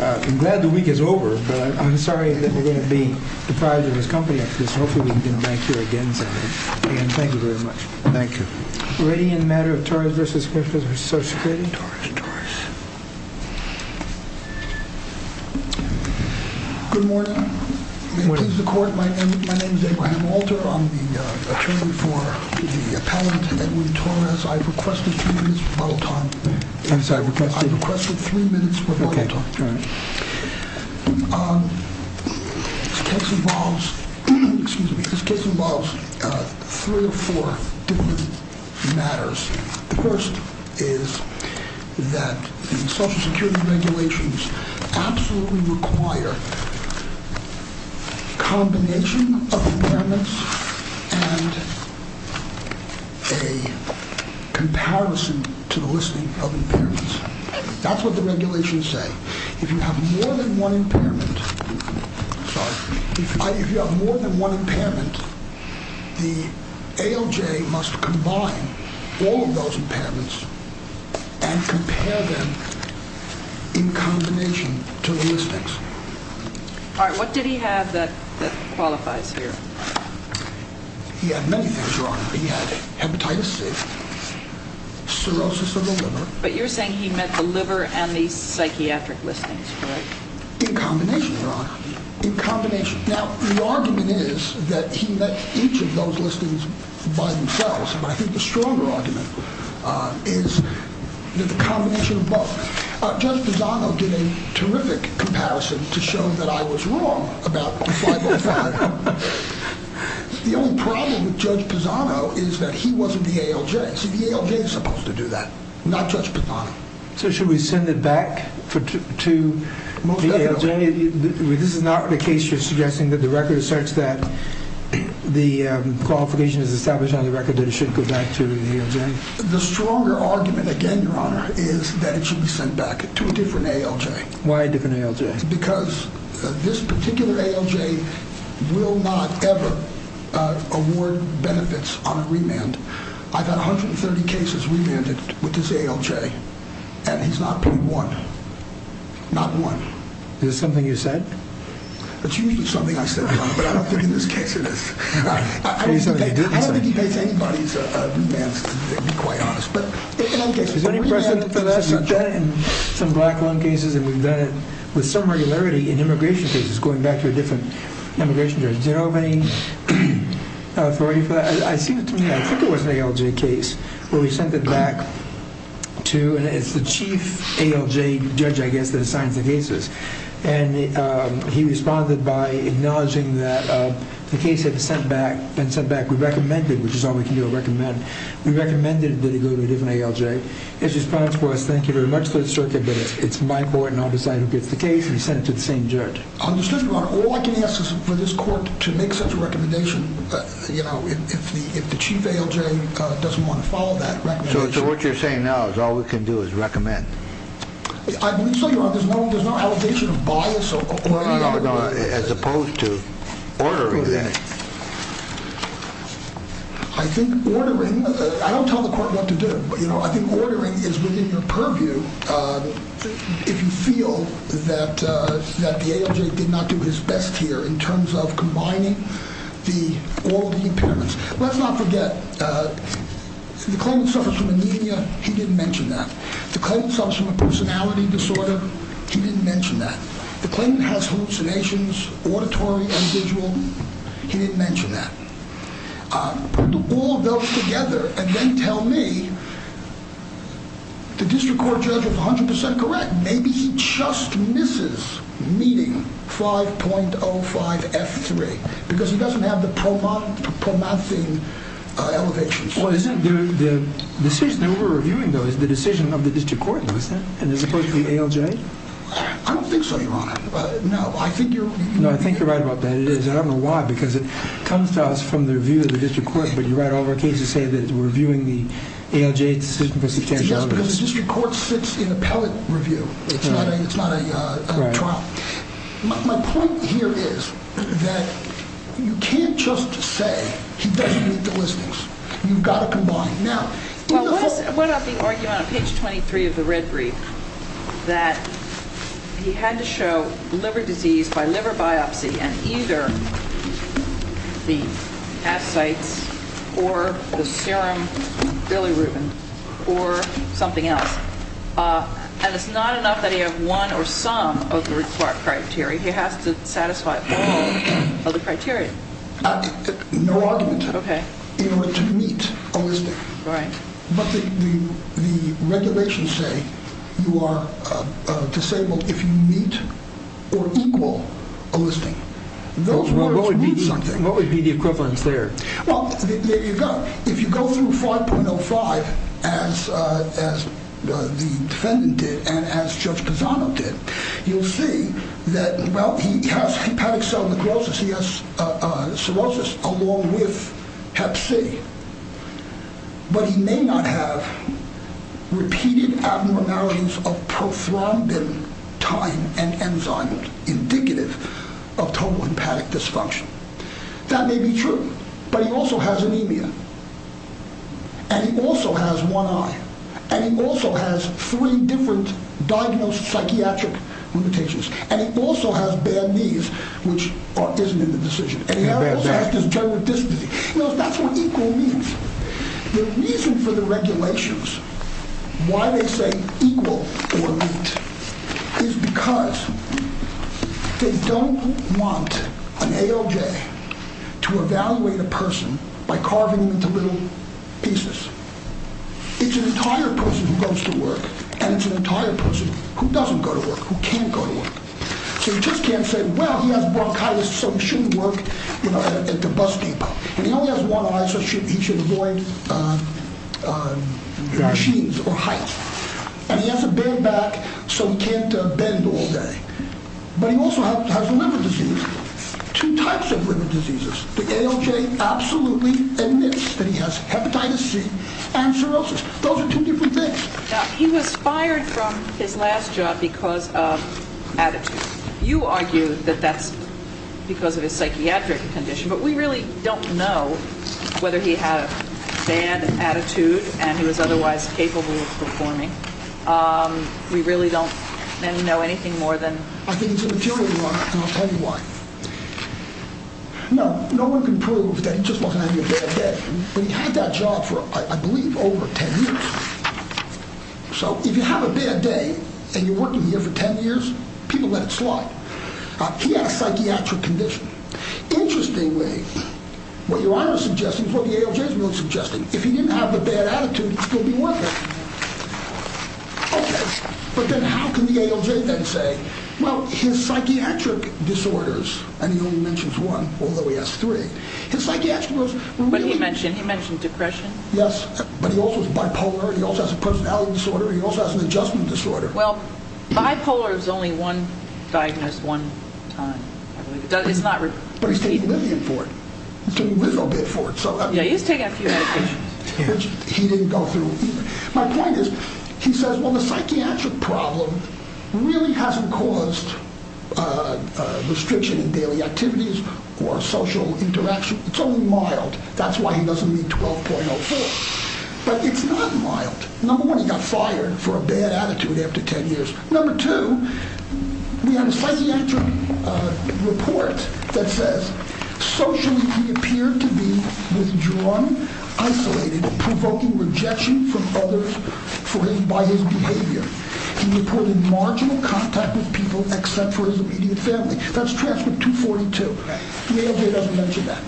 I'm glad the week is over, but I'm sorry that we're going to be deprived of his company after this. Hopefully we can get him back here again someday. Again, thank you very much. Thank you. Radiant Matter of Torres v. Comm Social Security. Good morning. My name is Abraham Walter. I'm the attorney for the appellant, Edwin Torres. I've requested three minutes for bottle talk. Three or four different matters. The first is that the Social Security regulations absolutely require a combination of impairments and a comparison to the listing of impairments. That's what the regulations say. If you have more than one impairment, the ALJ must combine all of those impairments and compare them in combination to the listings. All right, what did he have that qualifies here? He had many things, Your Honor. He had hepatitis C, cirrhosis of the liver. But you're saying he met the liver and the psychiatric listings, correct? In combination, Your Honor. In combination. Now, the argument is that he met each of those listings by themselves, but I think the stronger argument is that the combination of both. Judge Pisano did a terrific comparison to show that I was wrong about 505. The only problem with Judge Pisano is that he wasn't the ALJ. See, the ALJ is supposed to do that. Not Judge Pisano. So should we send it back to the ALJ? This is not the case you're suggesting, that the record is such that the qualification is established on the record that it should go back to the ALJ? The stronger argument, again, Your Honor, is that it should be sent back to a different ALJ. Why a different ALJ? Because this particular ALJ will not ever award benefits on a remand. I've had 130 cases remanded with this ALJ, and he's not paid one. Not one. Is this something you said? It's usually something I said, Your Honor, but I don't think in this case it is. I don't think he pays anybody's remands, to be quite honest. But in some black lung cases, and we've done it with some regularity in immigration cases, going back to a different immigration judge. Do you know of any authority for that? I think it was an ALJ case where we sent it back to, and it's the chief ALJ judge, I guess, that assigns the cases. And he responded by acknowledging that the case had been sent back. We recommended, which is all we can do is recommend. We recommended that he go to a different ALJ. His response was, thank you very much, Mr. Circuit, but it's my court, and I'll decide who gets the case, and he sent it to the same judge. Understood, Your Honor. All I can ask is for this court to make such a recommendation, you know, if the chief ALJ doesn't want to follow that recommendation. So what you're saying now is all we can do is recommend? I believe so, Your Honor. There's no allegation of bias or... No, no, no, no. As opposed to ordering it. I think ordering... I don't tell the court what to do, but, you know, I think ordering is within your purview if you feel that the ALJ did not do his best here in terms of combining all the impairments. Let's not forget, the claimant suffers from anemia. He didn't mention that. The claimant suffers from a personality disorder. He didn't mention that. The claimant has hallucinations, auditory, and visual. He didn't mention that. Put all of those together and then tell me, the district court judge was 100% correct. Maybe he just misses meeting 5.05F3 because he doesn't have the promising elevations. Well, isn't the decision that we're reviewing, though, is the decision of the district court, and as opposed to the ALJ? I don't think so, Your Honor. No, I think you're... No, I think you're right about that. It is, and I don't know why, because it comes to us from the review of the district court, but you're right, all of our cases say that we're reviewing the ALJ decision because he can't... Yes, because the district court sits in appellate review. It's not a trial. My point here is that you can't just say he doesn't meet the listings. You've got to combine. Well, what about the argument on page 23 of the red brief that he had to show liver disease by liver biopsy and either the ascites or the serum bilirubin or something else, and it's not enough that he have one or some of the required criteria. He has to satisfy all of the criteria. No argument in order to meet a listing, but the regulations say you are disabled if you meet or equal a listing. Those words mean something. What would be the equivalence there? Well, there you go. If you go through 5.05 as the defendant did and as Judge Pisano did, you'll see that, well, he has hepatic cell necrosis. He has cirrhosis along with hep C, but he may not have repeated abnormalities of prothrombin time and enzyme indicative of total hepatic dysfunction. That may be true, but he also has anemia, and he also has one eye, and he also has three different diagnosed psychiatric limitations, and he also has bad knees, which isn't in the decision. That's what equal means. The reason for the regulations, why they say equal or meet is because they don't want an ALJ to evaluate a person by carving them into little pieces. It's an entire person who goes to work, and it's an entire person who doesn't go to work, who can't go to work, so you just can't say, well, he has bronchitis, so he shouldn't work at the bus depot, and he only has one eye, so he should avoid machines or heights, and he has a bad back, so he can't bend all day. But he also has a liver disease. Two types of liver diseases. The ALJ absolutely admits that he has hepatitis C and cirrhosis. Those are two different things. Now, he was fired from his last job because of attitude. You argue that that's because of his psychiatric condition, but we really don't know whether he had a bad attitude and he was otherwise capable of performing. We really don't know anything more than that. I think it's a material one, and I'll tell you why. No, no one can prove that he just wasn't having a bad day, but he had that job for, I believe, over 10 years. So if you have a bad day and you're working here for 10 years, people let it slide. He had a psychiatric condition. Interestingly, what Your Honor is suggesting is what the ALJ is really suggesting. If he didn't have a bad attitude, he'd still be working. Okay, but then how can the ALJ then say, well, his psychiatric disorders, and he only mentions one, although he has three, his psychiatric disorders were really... But he mentioned depression. Yes, but he also has bipolar, he also has a personality disorder, and he also has an adjustment disorder. Well, bipolar is only one diagnosed one time. But he's taking Lillian for it. He's taking a little bit for it. Yeah, he's taking a few medications. My point is, he says, well, the psychiatric problem really hasn't caused restriction in daily activities or social interaction. It's only mild. That's why he doesn't need 12.04. But it's not mild. Number one, he got fired for a bad attitude after 10 years. Number two, we have a psychiatric report that says, socially, he appeared to be withdrawn, isolated, provoking rejection from others by his behavior. He reported marginal contact with people except for his immediate family. That's transcript 242. The ALJ doesn't mention that.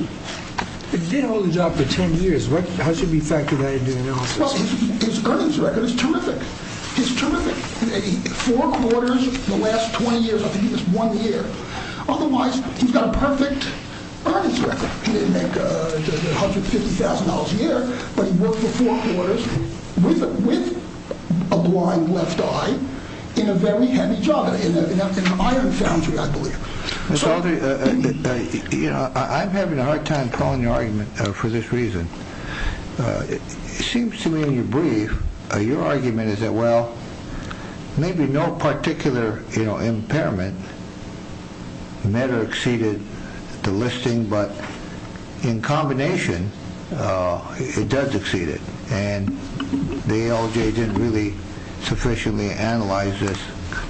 If he didn't hold a job for 10 years, how should we factor that into analysis? Plus, his earnings record is terrific. It's terrific. Four quarters in the last 20 years. I think he just won the year. Otherwise, he's got a perfect earnings record. He didn't make $150,000 a year, but he worked for four quarters with a blind left eye in a very handy job in an iron foundry, I believe. I'm having a hard time following your argument for this reason. It seems to me in your brief, your argument is that, well, maybe no particular impairment met or exceeded the listing, but in combination, it does exceed it. And the ALJ didn't really sufficiently analyze this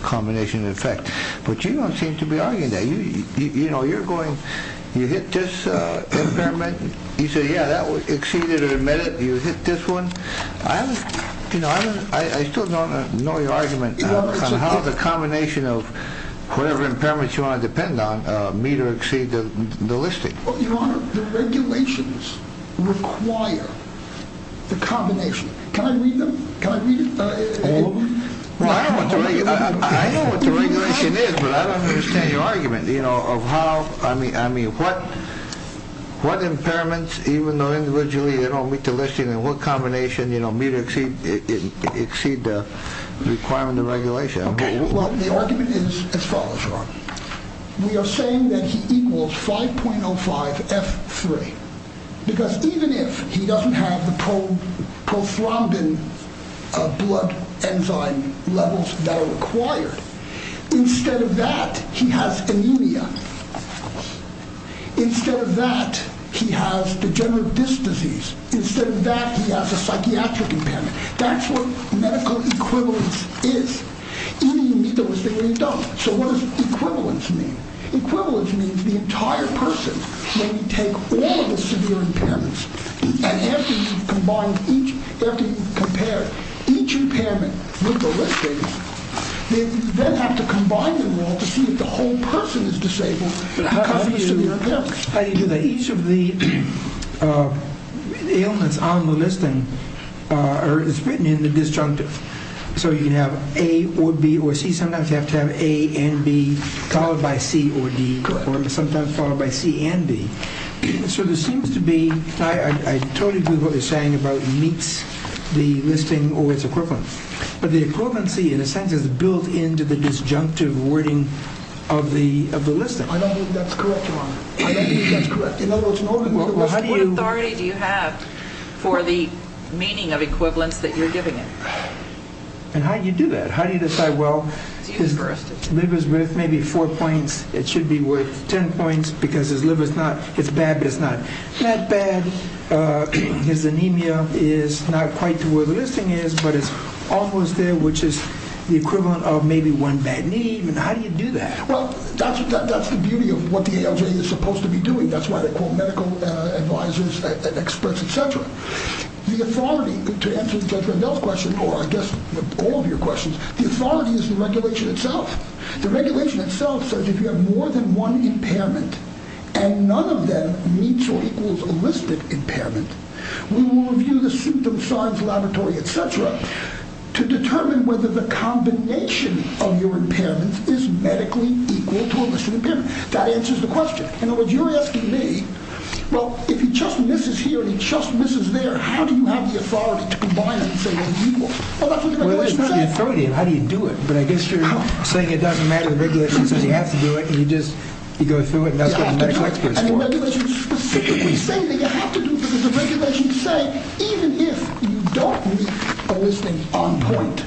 combination of effect. But you don't seem to be arguing that. You hit this impairment. You say, yeah, that exceeded or met it. You hit this one. I still don't know your argument on how the combination of whatever impairments you want to depend on meet or exceed the listing. Well, Your Honor, the regulations require the combination. Can I read them? Can I read all of them? Well, I don't know what the regulation is, but I don't understand your argument, you know, of how, I mean, what impairments, even though individually they don't meet the listing and what combination, you know, meet or exceed the requirement of regulation. Well, the argument is as follows, Your Honor. We are saying that he equals 5.05F3. Because even if he doesn't have the prothrombin blood enzyme levels that are required, instead of that, he has anemia. Instead of that, he has degenerative disc disease. Instead of that, he has a psychiatric impairment. That's what medical equivalence is. Even if you meet the listing, you don't. So what does equivalence mean? Equivalence means the entire person may take all of the severe impairments and have to combine each, have to compare each impairment with the listing. They then have to combine them all to see if the whole person is disabled because of the severe impairment. How do you do that? Each of the ailments on the listing is written in the disjunctive. So you can have A or B or C. Sometimes you have to have A and B followed by C or D or sometimes followed by C and D. So there seems to be, I totally agree with what you're saying about meets the listing or its equivalence. But the equivalency, in a sense, is built into the disjunctive wording of the listing. I don't think that's correct, Your Honor. I don't think that's correct. In other words, in order to... Well, how do you... What authority do you have for the meaning of equivalence that you're giving him? And how do you do that? How do you decide, well, his liver's worth maybe four points. It should be worth ten points because his liver's not, it's bad, but it's not that bad. His anemia is not quite to where the listing is, but it's almost there, which is the equivalent of maybe one bad knee. How do you do that? Well, that's the beauty of what the ALJ is supposed to be doing. That's why they call medical advisors experts, et cetera. The authority, to answer Judge Randell's question, or I guess all of your questions, the authority is the regulation itself. The regulation itself says if you have more than one impairment and none of them meets or equals a listed impairment, we will review the symptom science laboratory, et cetera, to determine whether the combination of your impairments is medically equal to a listed impairment. That answers the question. In other words, you're asking me, well, if he just misses here and he just misses there, how do you have the authority to combine them and say they're equal? Well, that's what the regulation says. Well, it's not the authority. How do you do it? But I guess you're saying it doesn't matter. The regulation says you have to do it, and you just, you go through it, and that's what the medics go through. And the regulations specifically say that you have to do because the regulations say even if you don't meet a listing on point,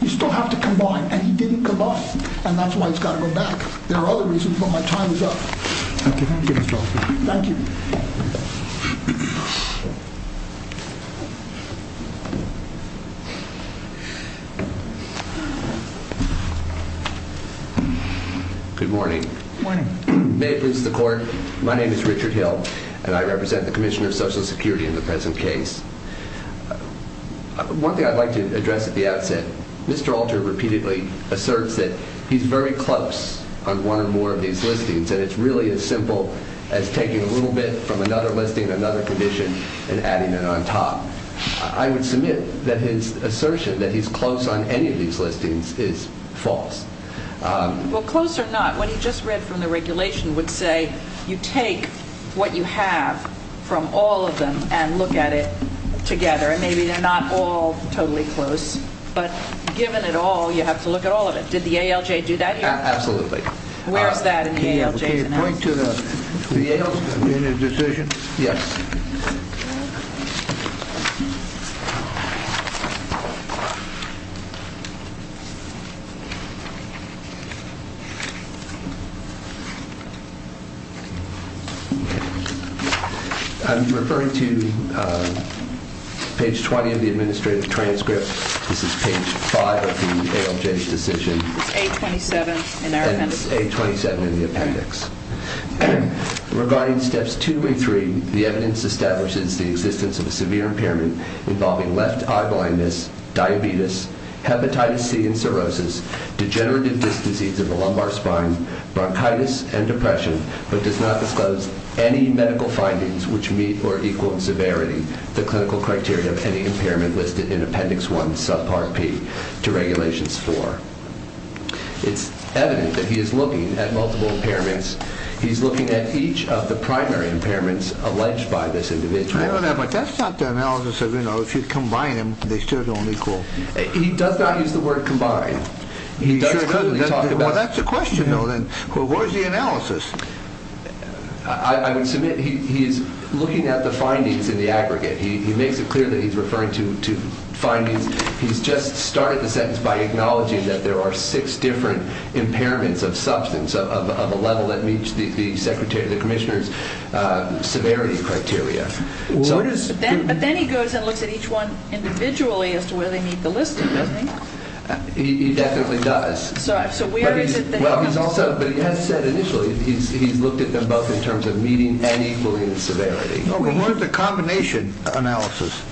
you still have to combine, and he didn't come up, and that's why he's got to go back. There are other reasons, but my time is up. Thank you, Mr. Hoffman. Thank you. Good morning. Good morning. May it please the court, my name is Richard Hill, and I represent the Commission of Social Security in the present case. One thing I'd like to address at the outset, Mr. Alter repeatedly asserts that he's very close on one or more of these listings, and it's really as simple as taking a little bit from another listing, another condition, and adding it on top. I would submit that his assertion that he's close on any of these listings is false. Well, close or not, what he just read from the regulation would say you take what you have from all of them and look at it together, and maybe they're not all totally close, but given it all, you have to look at all of it. Did the ALJ do that here? Absolutely. Where is that in the ALJ's analysis? The ALJ's decision? Yes. I'm referring to page 20 of the administrative transcript. This is page 5 of the ALJ's decision. It's A27 in our appendix. Regarding steps 2 and 3, the evidence establishes the existence of a severe impairment involving left eye blindness, diabetes, hepatitis C and cirrhosis, degenerative disc disease of the lumbar spine, bronchitis, and depression, but does not disclose any medical findings which meet or equal in severity the clinical criteria of any impairment listed in appendix 1, subpart P, to regulations 4. It's evident that he is looking at multiple impairments. He's looking at each of the primary impairments alleged by this individual. I don't know, but that's not the analysis of, you know, if you combine them, they still don't equal. He does not use the word combine. He certainly doesn't. Well, that's the question, though, then. Well, where's the analysis? I would submit he is looking at the findings in the aggregate. He makes it clear that he's referring to findings. He's just started the sentence by acknowledging that there are six different impairments of substance of a level that meets the commissioner's severity criteria. But then he goes and looks at each one individually as to whether they meet the listing, doesn't he? He definitely does. So where is it that he comes to? But he has said initially he's looked at them both in terms of meeting and equaling the severity. No, but what is the combination analysis?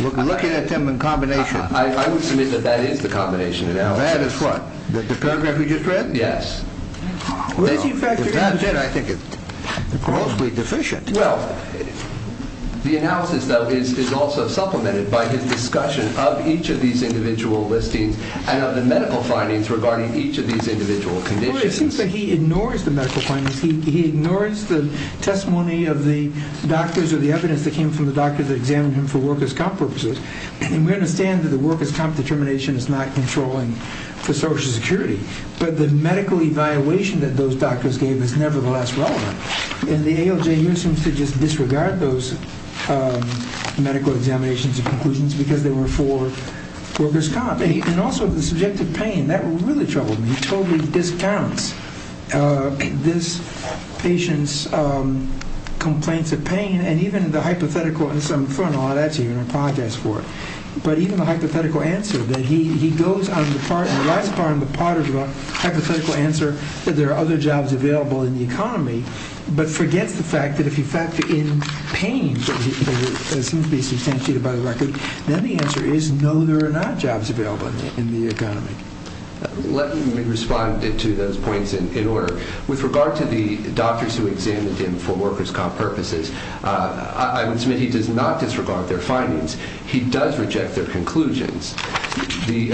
Looking at them in combination. I would submit that that is the combination analysis. That is what? The paragraph we just read? Yes. If that's it, I think it's grossly deficient. The analysis, though, is also supplemented by his discussion of each of these individual listings and of the medical findings regarding each of these individual conditions. It seems that he ignores the medical findings. He ignores the testimony of the doctors or the evidence that came from the doctor that examined him for workers' comp purposes. And we understand that the workers' comp determination is not controlling for Social Security. But the medical evaluation that those doctors gave is nevertheless relevant. And the ALJ here seems to just disregard those medical examinations and conclusions because they were for workers' comp. And also the subjective pain, that really troubled me. He totally discounts this patient's complaints of pain. And even the hypothetical and some fun, oh, that's even a podcast for it. But even the hypothetical answer that he goes on the part, the last part of the hypothetical answer, that there are other jobs available in the economy, but forgets the fact that if you factor in pain, which seems to be substantiated by the record, then the answer is no, there are not jobs available in the economy. Let me respond to those points in order. With regard to the doctors who examined him for workers' comp purposes, I would submit he does not disregard their findings. He does reject their conclusions. The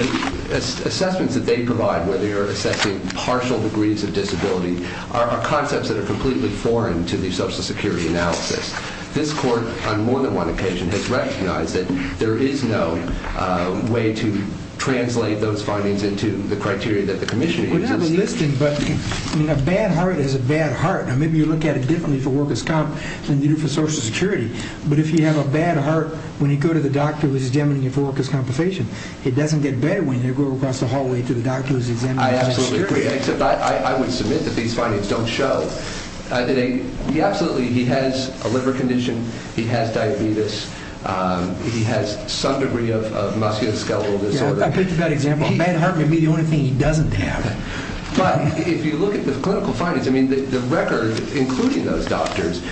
assessments that they provide, whether you're assessing partial degrees of disability, are concepts that are completely foreign to the Social Security analysis. This court, on more than one occasion, has recognized that there is no way to translate those findings into the criteria that the Commissioner uses. We have a listing, but a bad heart is a bad heart. And maybe you look at it differently for workers' comp than you do for Social Security. But if you have a bad heart when you go to the doctor who is examining you for workers' compensation, it doesn't get better when you go across the hallway to the doctor who is examining you for security. I absolutely agree, except I would submit that these findings don't show. Absolutely, he has a liver condition, he has diabetes, he has some degree of musculoskeletal disorder. I picked a bad example. A bad heart may be the only thing he doesn't have. But if you look at the clinical findings, the record, including those doctors,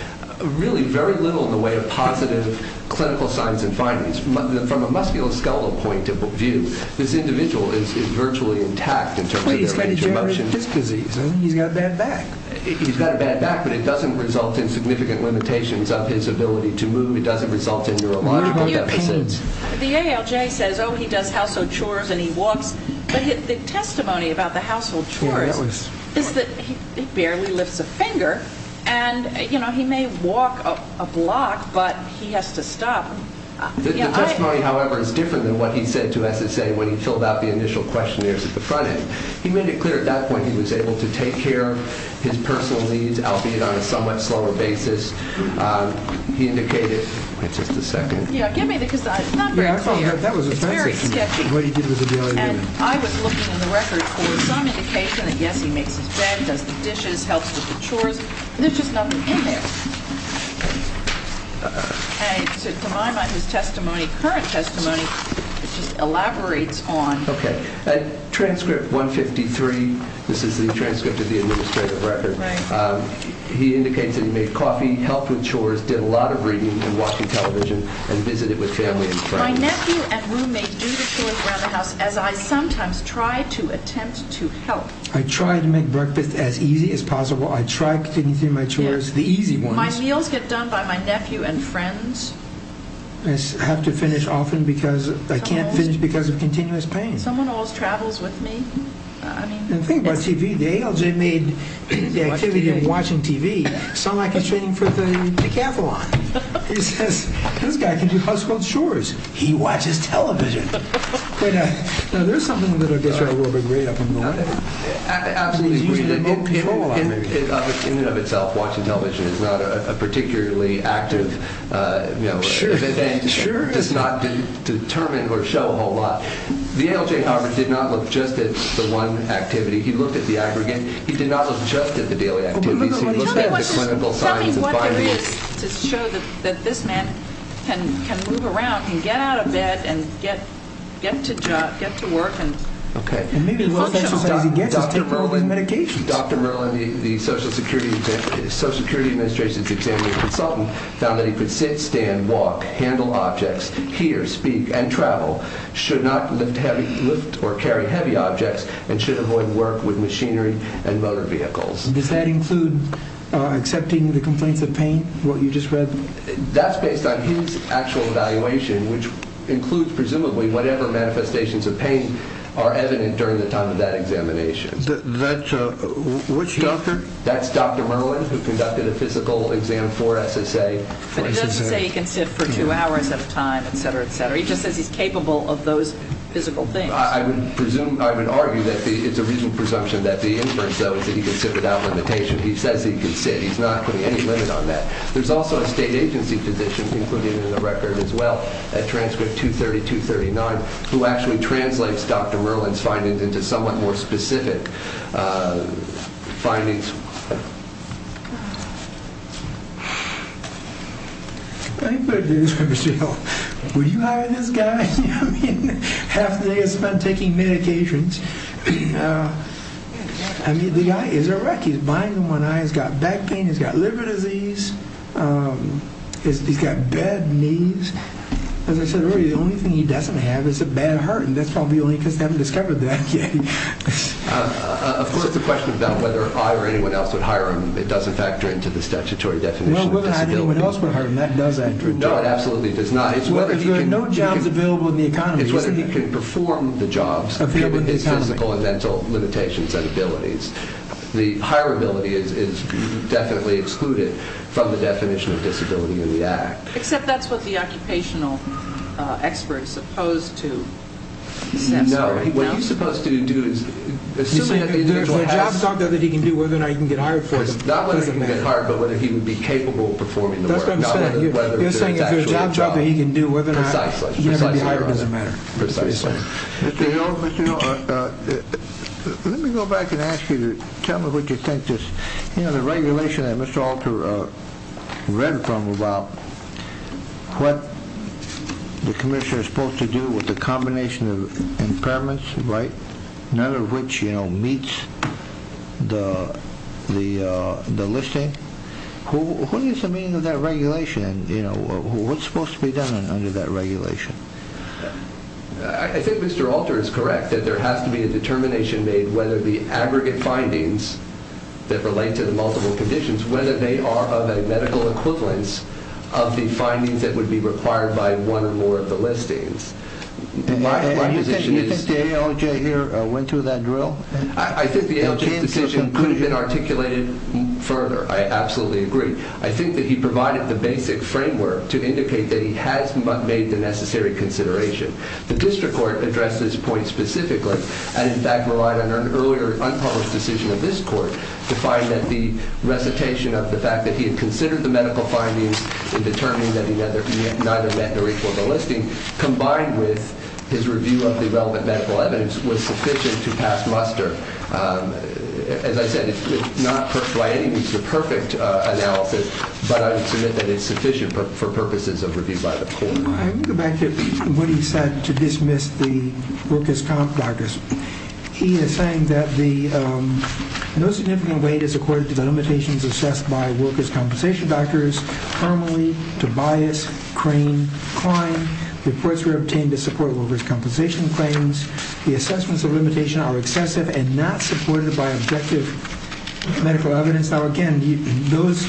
really very little in the way of positive clinical signs and findings. From a musculoskeletal point of view, this individual is virtually intact in terms of their intermotion. He's got a bad back. He's got a bad back, but it doesn't result in significant limitations of his ability to move. It doesn't result in neurological deficits. The ALJ says, oh, he does household chores and he walks. But the testimony about the household chores is that he barely lifts a finger. And, you know, he may walk a block, but he has to stop. The testimony, however, is different than what he said to SSA when he filled out the initial questionnaires at the front end. He made it clear at that point he was able to take care of his personal needs, albeit on a somewhat slower basis. He indicated-wait just a second. Yeah, give me the-because it's not very clear. That was offensive. It's very sketchy. What he did with the ALJ. And I was looking in the record for some indication that, yes, he makes his bed, does the dishes, helps with the chores. There's just nothing in there. And to my mind, his testimony, current testimony, just elaborates on- Okay. Transcript 153, this is the transcript of the administrative record. Right. He indicates that he made coffee, helped with chores, did a lot of reading and watching television, and visited with family and friends. My nephew and roommate do the chores around the house as I sometimes try to attempt to help. I try to make breakfast as easy as possible. I try to continue doing my chores, the easy ones. My meals get done by my nephew and friends. I have to finish often because I can't finish because of continuous pain. Someone always travels with me. The thing about TV, the ALJ made the activity of watching TV sound like he's training for the decathlon. He says, this guy can do household chores. He watches television. Now, there's something that I guess I will agree upon. I absolutely agree. In and of itself, watching television is not a particularly active- Sure, sure. It does not determine or show a whole lot. The ALJ, however, did not look just at the one activity. He looked at the aggregate. He did not look just at the daily activities. He looked at the clinical signs and findings. Tell me what there is to show that this man can move around and get out of bed and get to work and function. Dr. Merlin, the Social Security Administration's examining consultant, found that he could sit, stand, walk, handle objects, hear, speak, and travel. Should not lift or carry heavy objects and should avoid work with machinery and motor vehicles. Does that include accepting the complaints of pain, what you just read? That's based on his actual evaluation, which includes, presumably, whatever manifestations of pain are evident during the time of that examination. Which doctor? That's Dr. Merlin, who conducted a physical exam for SSA. But he doesn't say he can sit for two hours at a time, et cetera, et cetera. He just says he's capable of those physical things. I would argue that it's a reasonable presumption that the inference, though, is that he can sit without limitation. He says he can sit. He's not putting any limit on that. There's also a state agency physician, included in the record as well, at transcript 230-239, who actually translates Dr. Merlin's findings into somewhat more specific findings. Anybody who's ever said, oh, will you hire this guy? I mean, half the day is spent taking medications. I mean, the guy is a wreck. He's blind in one eye. He's got back pain. He's got liver disease. He's got bad knees. As I said earlier, the only thing he doesn't have is a bad heart, and that's probably only because they haven't discovered that yet. Of course, the question about whether I or anyone else would hire him, it doesn't factor into the statutory definition of disability. Well, whether or not anyone else would hire him, that does enter into it. No, it absolutely does not. It's whether he can perform the jobs, physical and mental limitations and abilities. The hire ability is definitely excluded from the definition of disability in the Act. Except that's what the occupational expert is supposed to assess. No, what he's supposed to do is, assuming that the individual has— You're saying if there's a job that he can do, whether or not he can get hired for it, it doesn't matter. Not whether he can get hired, but whether he would be capable of performing the work. That's what I'm saying. You're saying if there's a job that he can do, whether or not he can be hired, it doesn't matter. Precisely. Mr. Hill, let me go back and ask you to tell me what you think. You know, the regulation that Mr. Alter read from about what the commissioner is supposed to do with the combination of impairments, none of which meets the listing. What is the meaning of that regulation? What's supposed to be done under that regulation? I think Mr. Alter is correct that there has to be a determination made whether the aggregate findings that relate to the multiple conditions, whether they are of a medical equivalence of the findings that would be required by one or more of the listings. Do you think the ALJ here went through that drill? I think the ALJ's decision could have been articulated further. I absolutely agree. I think that he provided the basic framework to indicate that he has made the necessary consideration. The district court addressed this point specifically, and in fact relied on an earlier unpublished decision of this court to find that the recitation of the fact that he had considered the medical findings in determining that he neither met the rate for the listing combined with his review of the relevant medical evidence was sufficient to pass muster. As I said, it's not by any means the perfect analysis, but I would submit that it's sufficient for purposes of review by the court. I want to go back to what he said to dismiss the workers' comp doctors. He is saying that no significant weight is accorded to the limitations assessed by workers' compensation doctors. Harmony, Tobias, Crane, Klein, reports were obtained to support workers' compensation claims. The assessments of limitation are excessive and not supported by objective medical evidence. Now, again, those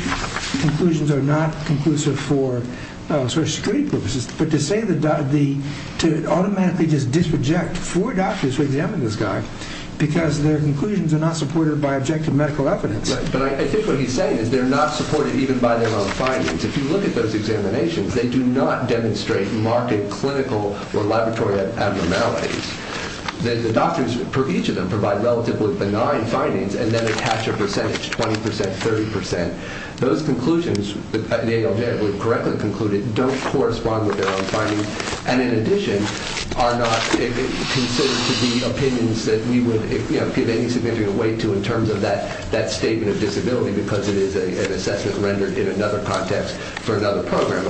conclusions are not conclusive for sort of street purposes, but to say that to automatically just disreject four doctors who examined this guy because their conclusions are not supported by objective medical evidence. But I think what he's saying is they're not supported even by their own findings. If you look at those examinations, they do not demonstrate marked clinical or laboratory abnormalities. The doctors for each of them provide relatively benign findings and then attach a percentage, 20%, 30%. Those conclusions nailed in or correctly concluded don't correspond with their own findings and in addition are not considered to be opinions that we would give any significant weight to in terms of that statement of disability because it is an assessment rendered in another context for another program.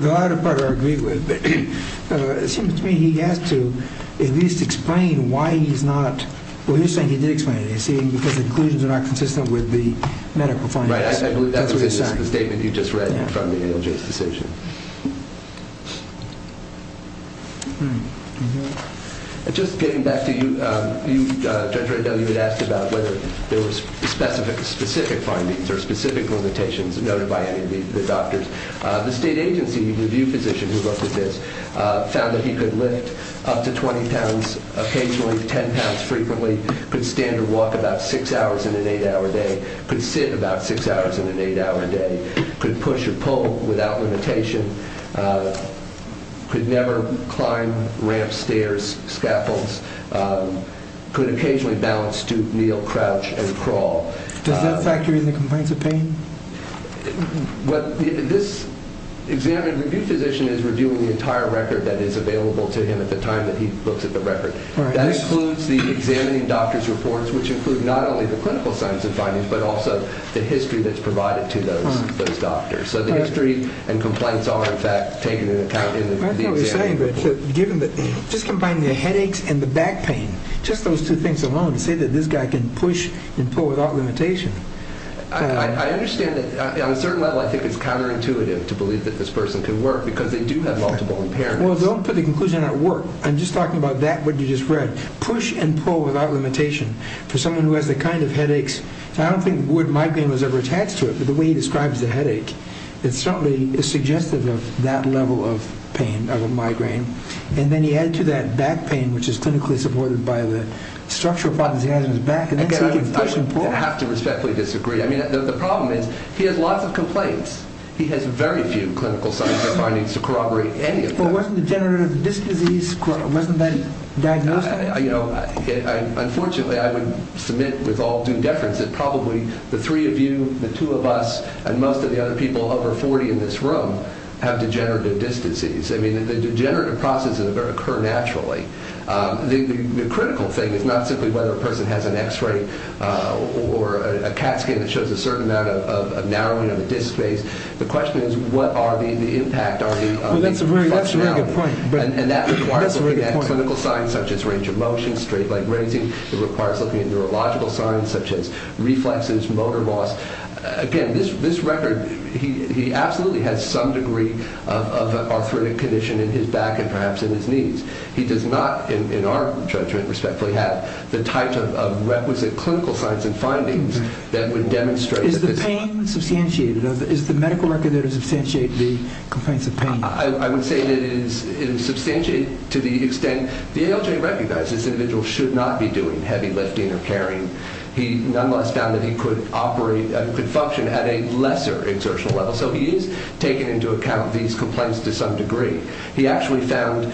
The latter part I agree with. It seems to me he has to at least explain why he's not, well, he's saying he did explain it, he's saying because the conclusions are not consistent with the medical findings. Right, I believe that's the statement you just read from the ALJ's decision. Just getting back to you, Judge Rendell, you had asked about whether there were specific findings or specific limitations noted by any of the doctors. The state agency review physician who looked at this found that he could lift up to 20 pounds occasionally, 10 pounds frequently, could stand or walk about six hours in an eight-hour day, could sit about six hours in an eight-hour day, could push or pull without limitation, could never climb ramps, stairs, scaffolds, could occasionally bounce, stoop, kneel, crouch, and crawl. Does that factor in the complaints of pain? This examined review physician is reviewing the entire record that is available to him at the time that he looks at the record. That includes the examining doctor's reports, which include not only the clinical science and findings but also the history that's provided to those doctors. So the history and complaints are, in fact, taken into account in the exam. I know what you're saying, but just combining the headaches and the back pain, just those two things alone to say that this guy can push and pull without limitation. I understand that on a certain level I think it's counterintuitive to believe that this person can work because they do have multiple impairments. Well, don't put the conclusion on work. I'm just talking about that, what you just read. Push and pull without limitation for someone who has the kind of headaches. I don't think the word migraine was ever attached to it, but the way he describes the headache, it certainly is suggestive of that level of pain, of a migraine. And then he added to that back pain, which is clinically supported by the structural problems he has in his back. I have to respectfully disagree. I mean, the problem is he has lots of complaints. He has very few clinical science or findings to corroborate any of those. Well, wasn't the degenerative disc disease, wasn't that diagnosed? Unfortunately, I would submit with all due deference that probably the three of you, the two of us, and most of the other people, over 40 in this room, have degenerative disc disease. I mean, the degenerative processes occur naturally. The critical thing is not simply whether a person has an X-ray or a CAT scan that shows a certain amount of narrowing of the disc space. The question is what are the impact on the functionality. And that requires looking at clinical signs such as range of motion, straight leg raising. It requires looking at neurological signs such as reflexes, motor loss. Again, this record, he absolutely has some degree of arthritic condition in his back and perhaps in his knees. He does not, in our judgment, respectfully have the type of requisite clinical science and findings that would demonstrate that this is… Is the pain substantiated? Is the medical record there to substantiate the complaints of pain? I would say that it is substantiated to the extent… The ALJ recognizes this individual should not be doing heavy lifting or carrying. He nonetheless found that he could operate and could function at a lesser exertional level. So he is taking into account these complaints to some degree. He actually found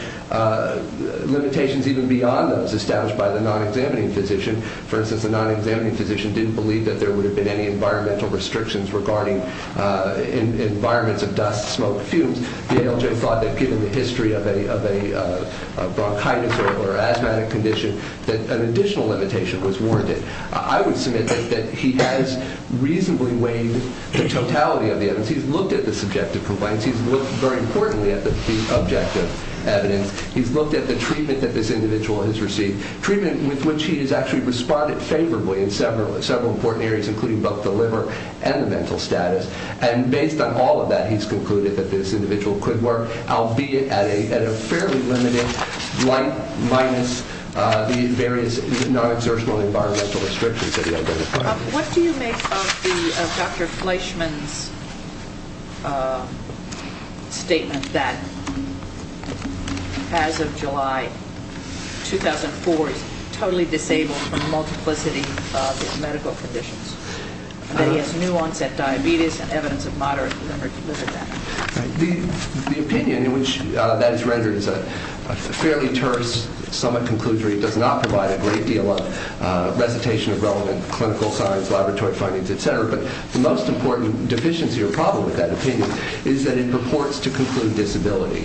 limitations even beyond those established by the non-examining physician. For instance, the non-examining physician didn't believe that there would have been any environmental restrictions regarding environments of dust, smoke, fumes. The ALJ thought that given the history of a bronchitis or asthmatic condition that an additional limitation was warranted. I would submit that he has reasonably weighed the totality of the evidence. He's looked at the subjective complaints. He's looked, very importantly, at the objective evidence. He's looked at the treatment that this individual has received, treatment with which he has actually responded favorably in several important areas, including both the liver and the mental status. And based on all of that, he's concluded that this individual could work, albeit at a fairly limited length, minus the various non-exertional environmental restrictions that he identified. What do you make of Dr. Fleischman's statement that, as of July 2004, he's totally disabled from the multiplicity of his medical conditions, that he has new-onset diabetes and evidence of moderate liver damage? The opinion in which that is rendered is a fairly terse, somewhat conclusive. It does not provide a great deal of recitation of relevant clinical science, laboratory findings, et cetera. But the most important deficiency or problem with that opinion is that it purports to conclude disability.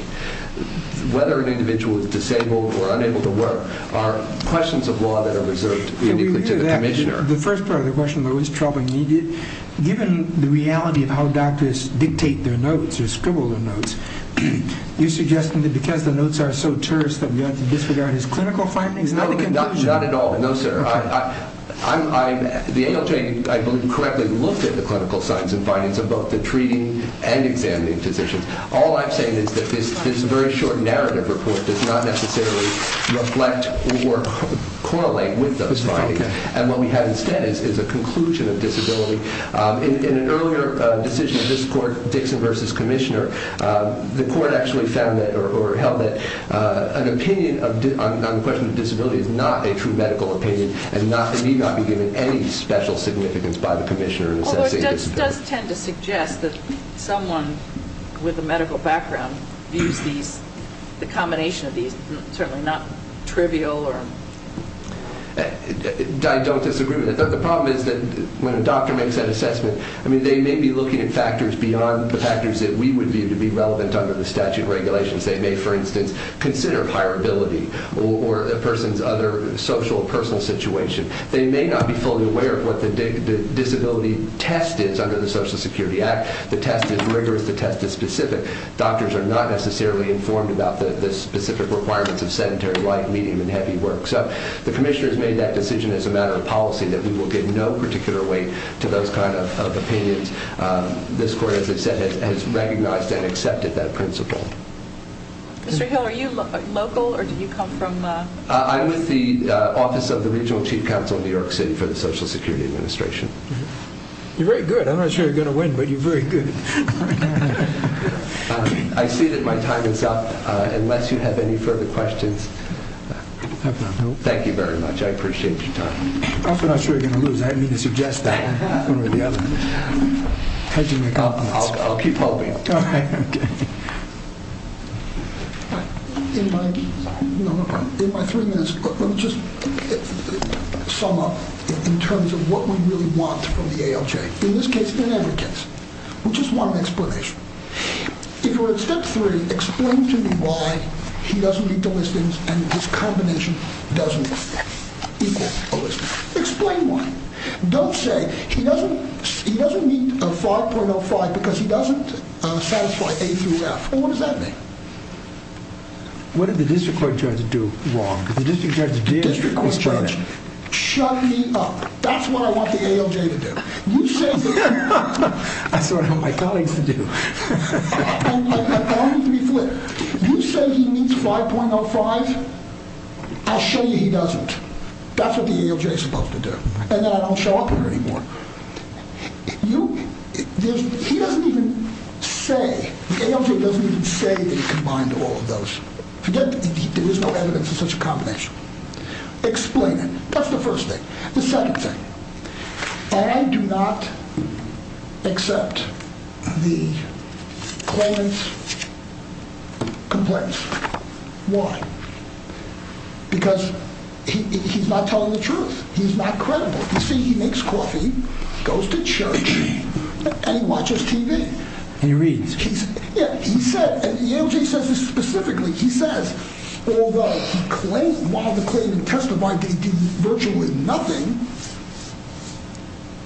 Whether an individual is disabled or unable to work are questions of law that are reserved uniquely to the commissioner. The first part of the question, though, is troubling. Given the reality of how doctors dictate their notes or scribble their notes, you're suggesting that because the notes are so terse that we ought to disregard his clinical findings? Not at all, no, sir. The ALJ, I believe, correctly looked at the clinical science and findings of both the treating and examining physicians. All I'm saying is that this very short narrative report does not necessarily reflect or correlate with those findings. And what we have instead is a conclusion of disability. In an earlier decision of this court, Dixon v. Commissioner, the court actually held that an opinion on the question of disability is not a true medical opinion and need not be given any special significance by the commissioner in assessing disability. It does tend to suggest that someone with a medical background views the combination of these certainly not trivial or... I don't disagree. The problem is that when a doctor makes that assessment, I mean, they may be looking at factors beyond the factors that we would view to be relevant under the statute of regulations. They may, for instance, consider hireability or a person's other social or personal situation. They may not be fully aware of what the disability test is under the Social Security Act. The test is rigorous. The test is specific. Doctors are not necessarily informed about the specific requirements of sedentary life, medium, and heavy work. So the commissioner has made that decision as a matter of policy that we will give no particular weight to those kind of opinions. This court, as I said, has recognized and accepted that principle. Mr. Hill, are you local or did you come from... I'm with the Office of the Regional Chief Counsel of New York City for the Social Security Administration. You're very good. I'm not sure you're going to win, but you're very good. I see that my time is up. Unless you have any further questions... I have none. Thank you very much. I appreciate your time. I'm not sure you're going to lose. I didn't mean to suggest that one way or the other. I'll keep hoping. All right. Okay. In my three minutes, let me just sum up in terms of what we really want from the ALJ. In this case, in every case, we just want an explanation. If you're in Step 3, explain to me why he doesn't meet the listings and his combination doesn't equal a listing. Explain why. Don't say he doesn't meet 5.05 because he doesn't satisfy A through F. Well, what does that mean? What did the district court judge do wrong? The district court judge shut me up. That's what I want the ALJ to do. You say... That's what I want my colleagues to do. You say he meets 5.05. I'll show you he doesn't. That's what the ALJ is supposed to do. And then I don't show up here anymore. He doesn't even say... The ALJ doesn't even say that he combined all of those. There is no evidence of such a combination. Explain it. That's the first thing. The second thing. I do not accept the claimant's complaints. Why? Because he's not telling the truth. He's not credible. You see, he makes coffee, goes to church, and he watches TV. He reads. Yeah, he said... And the ALJ says this specifically. He says, although he claimed... While the claimant testified that he did virtually nothing,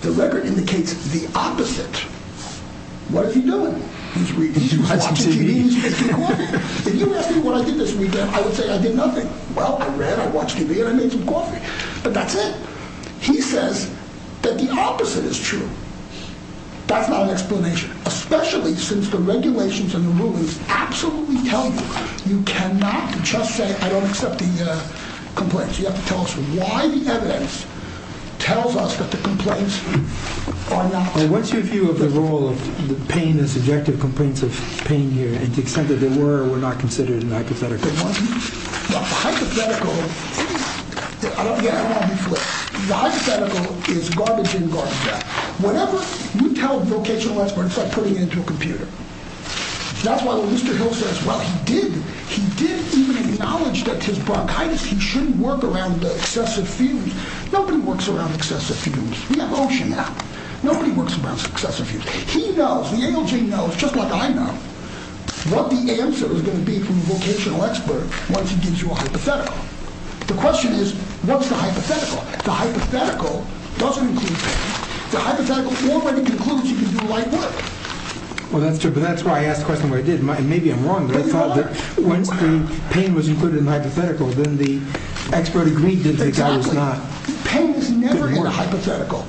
the record indicates the opposite. What is he doing? He's reading. He's watching TV. If you asked me what I did this weekend, I would say I did nothing. Well, I read, I watched TV, and I made some coffee. But that's it. He says that the opposite is true. That's not an explanation, especially since the regulations and the rulings absolutely tell you you cannot just say, I don't accept the complaints. You have to tell us why the evidence tells us that the complaints are not true. What's your view of the role of the pain and subjective complaints of pain here, and the extent that they were or were not considered hypothetical? The hypothetical is garbage in, garbage out. Whenever you tell a vocational expert, it's like putting it into a computer. That's why Lester Hill says, well, he did even acknowledge that his bronchitis, he shouldn't work around the excessive fumes. Nobody works around excessive fumes. We have ocean now. Nobody works around excessive fumes. He knows, the ALJ knows, just like I know, what the answer is going to be from the vocational expert once he gives you a hypothetical. The question is, what's the hypothetical? The hypothetical doesn't include pain. The hypothetical already concludes you can do light work. Well, that's true, but that's why I asked the question where I did. Maybe I'm wrong, but I thought that once the pain was included in the hypothetical, then the expert agreed that the guy was not going to work. Exactly. Pain is never in the hypothetical.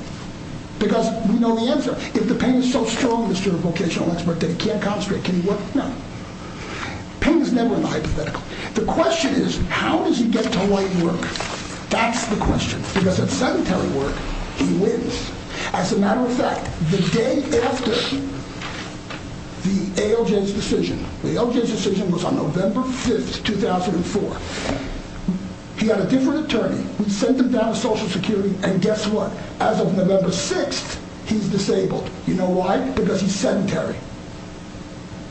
Because we know the answer. If the pain is so strong, Mr. Vocational Expert, that it can't concentrate, can he work? No. Pain is never in the hypothetical. The question is, how does he get to light work? That's the question. Because if it's sedentary work, he wins. As a matter of fact, the day after the ALJ's decision, the ALJ's decision was on November 5th, 2004. He had a different attorney. We sent him down to Social Security, and guess what? As of November 6th, he's disabled. You know why? Because he's sedentary.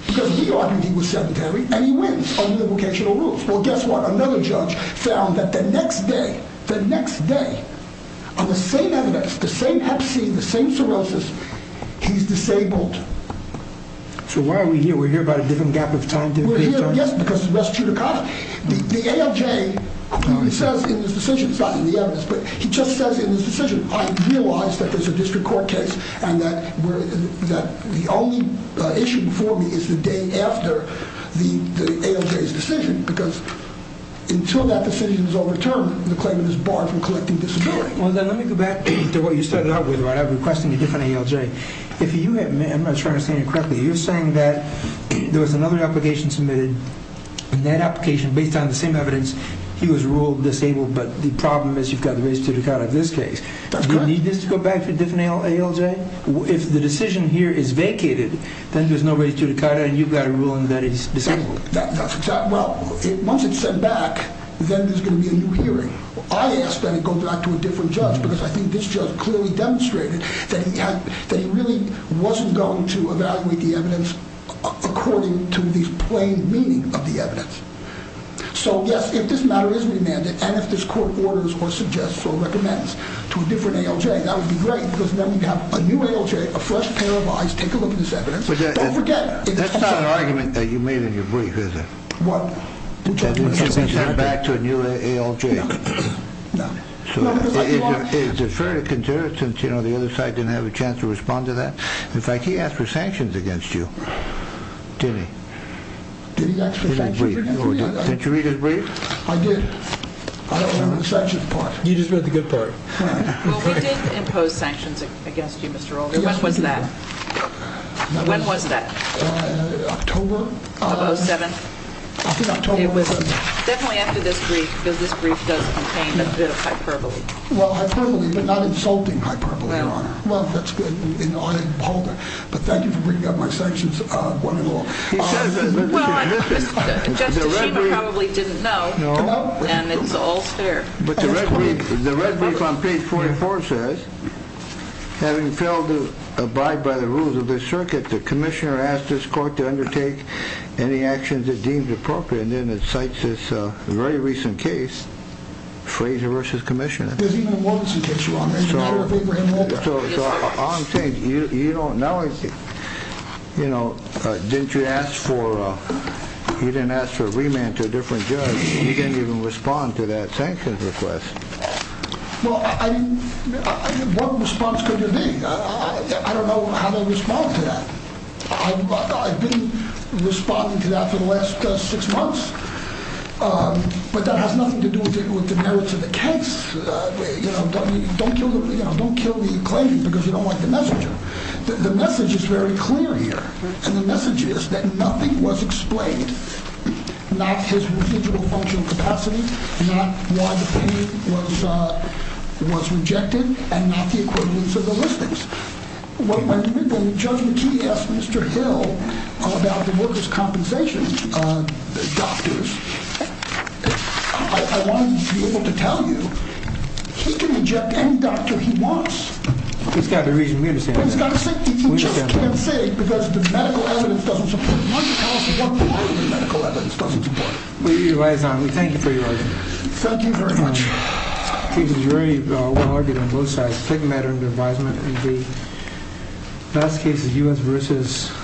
Because we argued he was sedentary, and he wins under the vocational rules. Well, guess what? Another judge found that the next day, the next day, on the same evidence, the same hep C, the same cirrhosis, he's disabled. So why are we here? We're here about a different gap of time, different judge? We're here, yes, because of Ress Chudakoff. The ALJ says in his decision, not in the evidence, but he just says in his decision, I realize that there's a district court case and that the only issue before me is the day after the ALJ's decision, because until that decision is overturned, the claimant is barred from collecting disability. Well, then let me go back to what you started out with, about requesting a different ALJ. I'm not sure I understand you correctly. You're saying that there was another application submitted, and that application, based on the same evidence, he was ruled disabled, but the problem is you've got Ress Chudakoff in this case. That's correct. Does this go back to a different ALJ? If the decision here is vacated, then there's no Ress Chudakoff, and you've got a ruling that he's disabled. Well, once it's sent back, then there's going to be a new hearing. I asked that it go back to a different judge because I think this judge clearly demonstrated that he really wasn't going to evaluate the evidence according to the plain meaning of the evidence. So, yes, if this matter is remanded and if this court orders or suggests or recommends to a different ALJ, that would be great because then we'd have a new ALJ, a fresh pair of eyes, take a look at this evidence. Don't forget. That's not an argument that you made in your brief, is it? What? That it should be sent back to a new ALJ. No. Is it fair to consider, since the other side didn't have a chance to respond to that? In fact, he asked for sanctions against you, didn't he? Did he ask for sanctions against me? Didn't you read his brief? I did. I don't remember the sanctions part. You just read the good part. Well, we did impose sanctions against you, Mr. Roland. When was that? When was that? October. Of 07? I think October of 07. It was definitely after this brief because this brief does contain a bit of hyperbole. Well, hyperbole, but not insulting hyperbole, Your Honor. Well, that's good. But thank you for bringing up my sanctions one and all. Well, Justice Schema probably didn't know, and it's all fair. But the red brief on page 44 says, Having failed to abide by the rules of the circuit, the commissioner asked this court to undertake any actions it deemed appropriate. And then it cites this very recent case, Frazier v. Commissioner. There's even a mortgage he takes you on. So all I'm saying, you don't know anything. You know, you didn't ask for a remand to a different judge. You didn't even respond to that sanctions request. Well, what response could there be? I don't know how to respond to that. I've been responding to that for the last six months. But that has nothing to do with the merits of the case. Don't kill the claimant because you don't like the messenger. The message is very clear here. And the message is that nothing was explained. Not his individual functional capacity. Not why the pain was rejected. And not the equivalence of the listings. When Judge McKee asked Mr. Hill about the workers' compensation doctors, I want to be able to tell you, he can eject any doctor he wants. He's got a reason. We understand. He just can't say because the medical evidence doesn't support it. Why don't you tell us what part of the medical evidence doesn't support it? We thank you for your argument. Thank you very much. The case is very well argued on both sides. A big matter under advisement. And the last case is U.S. v.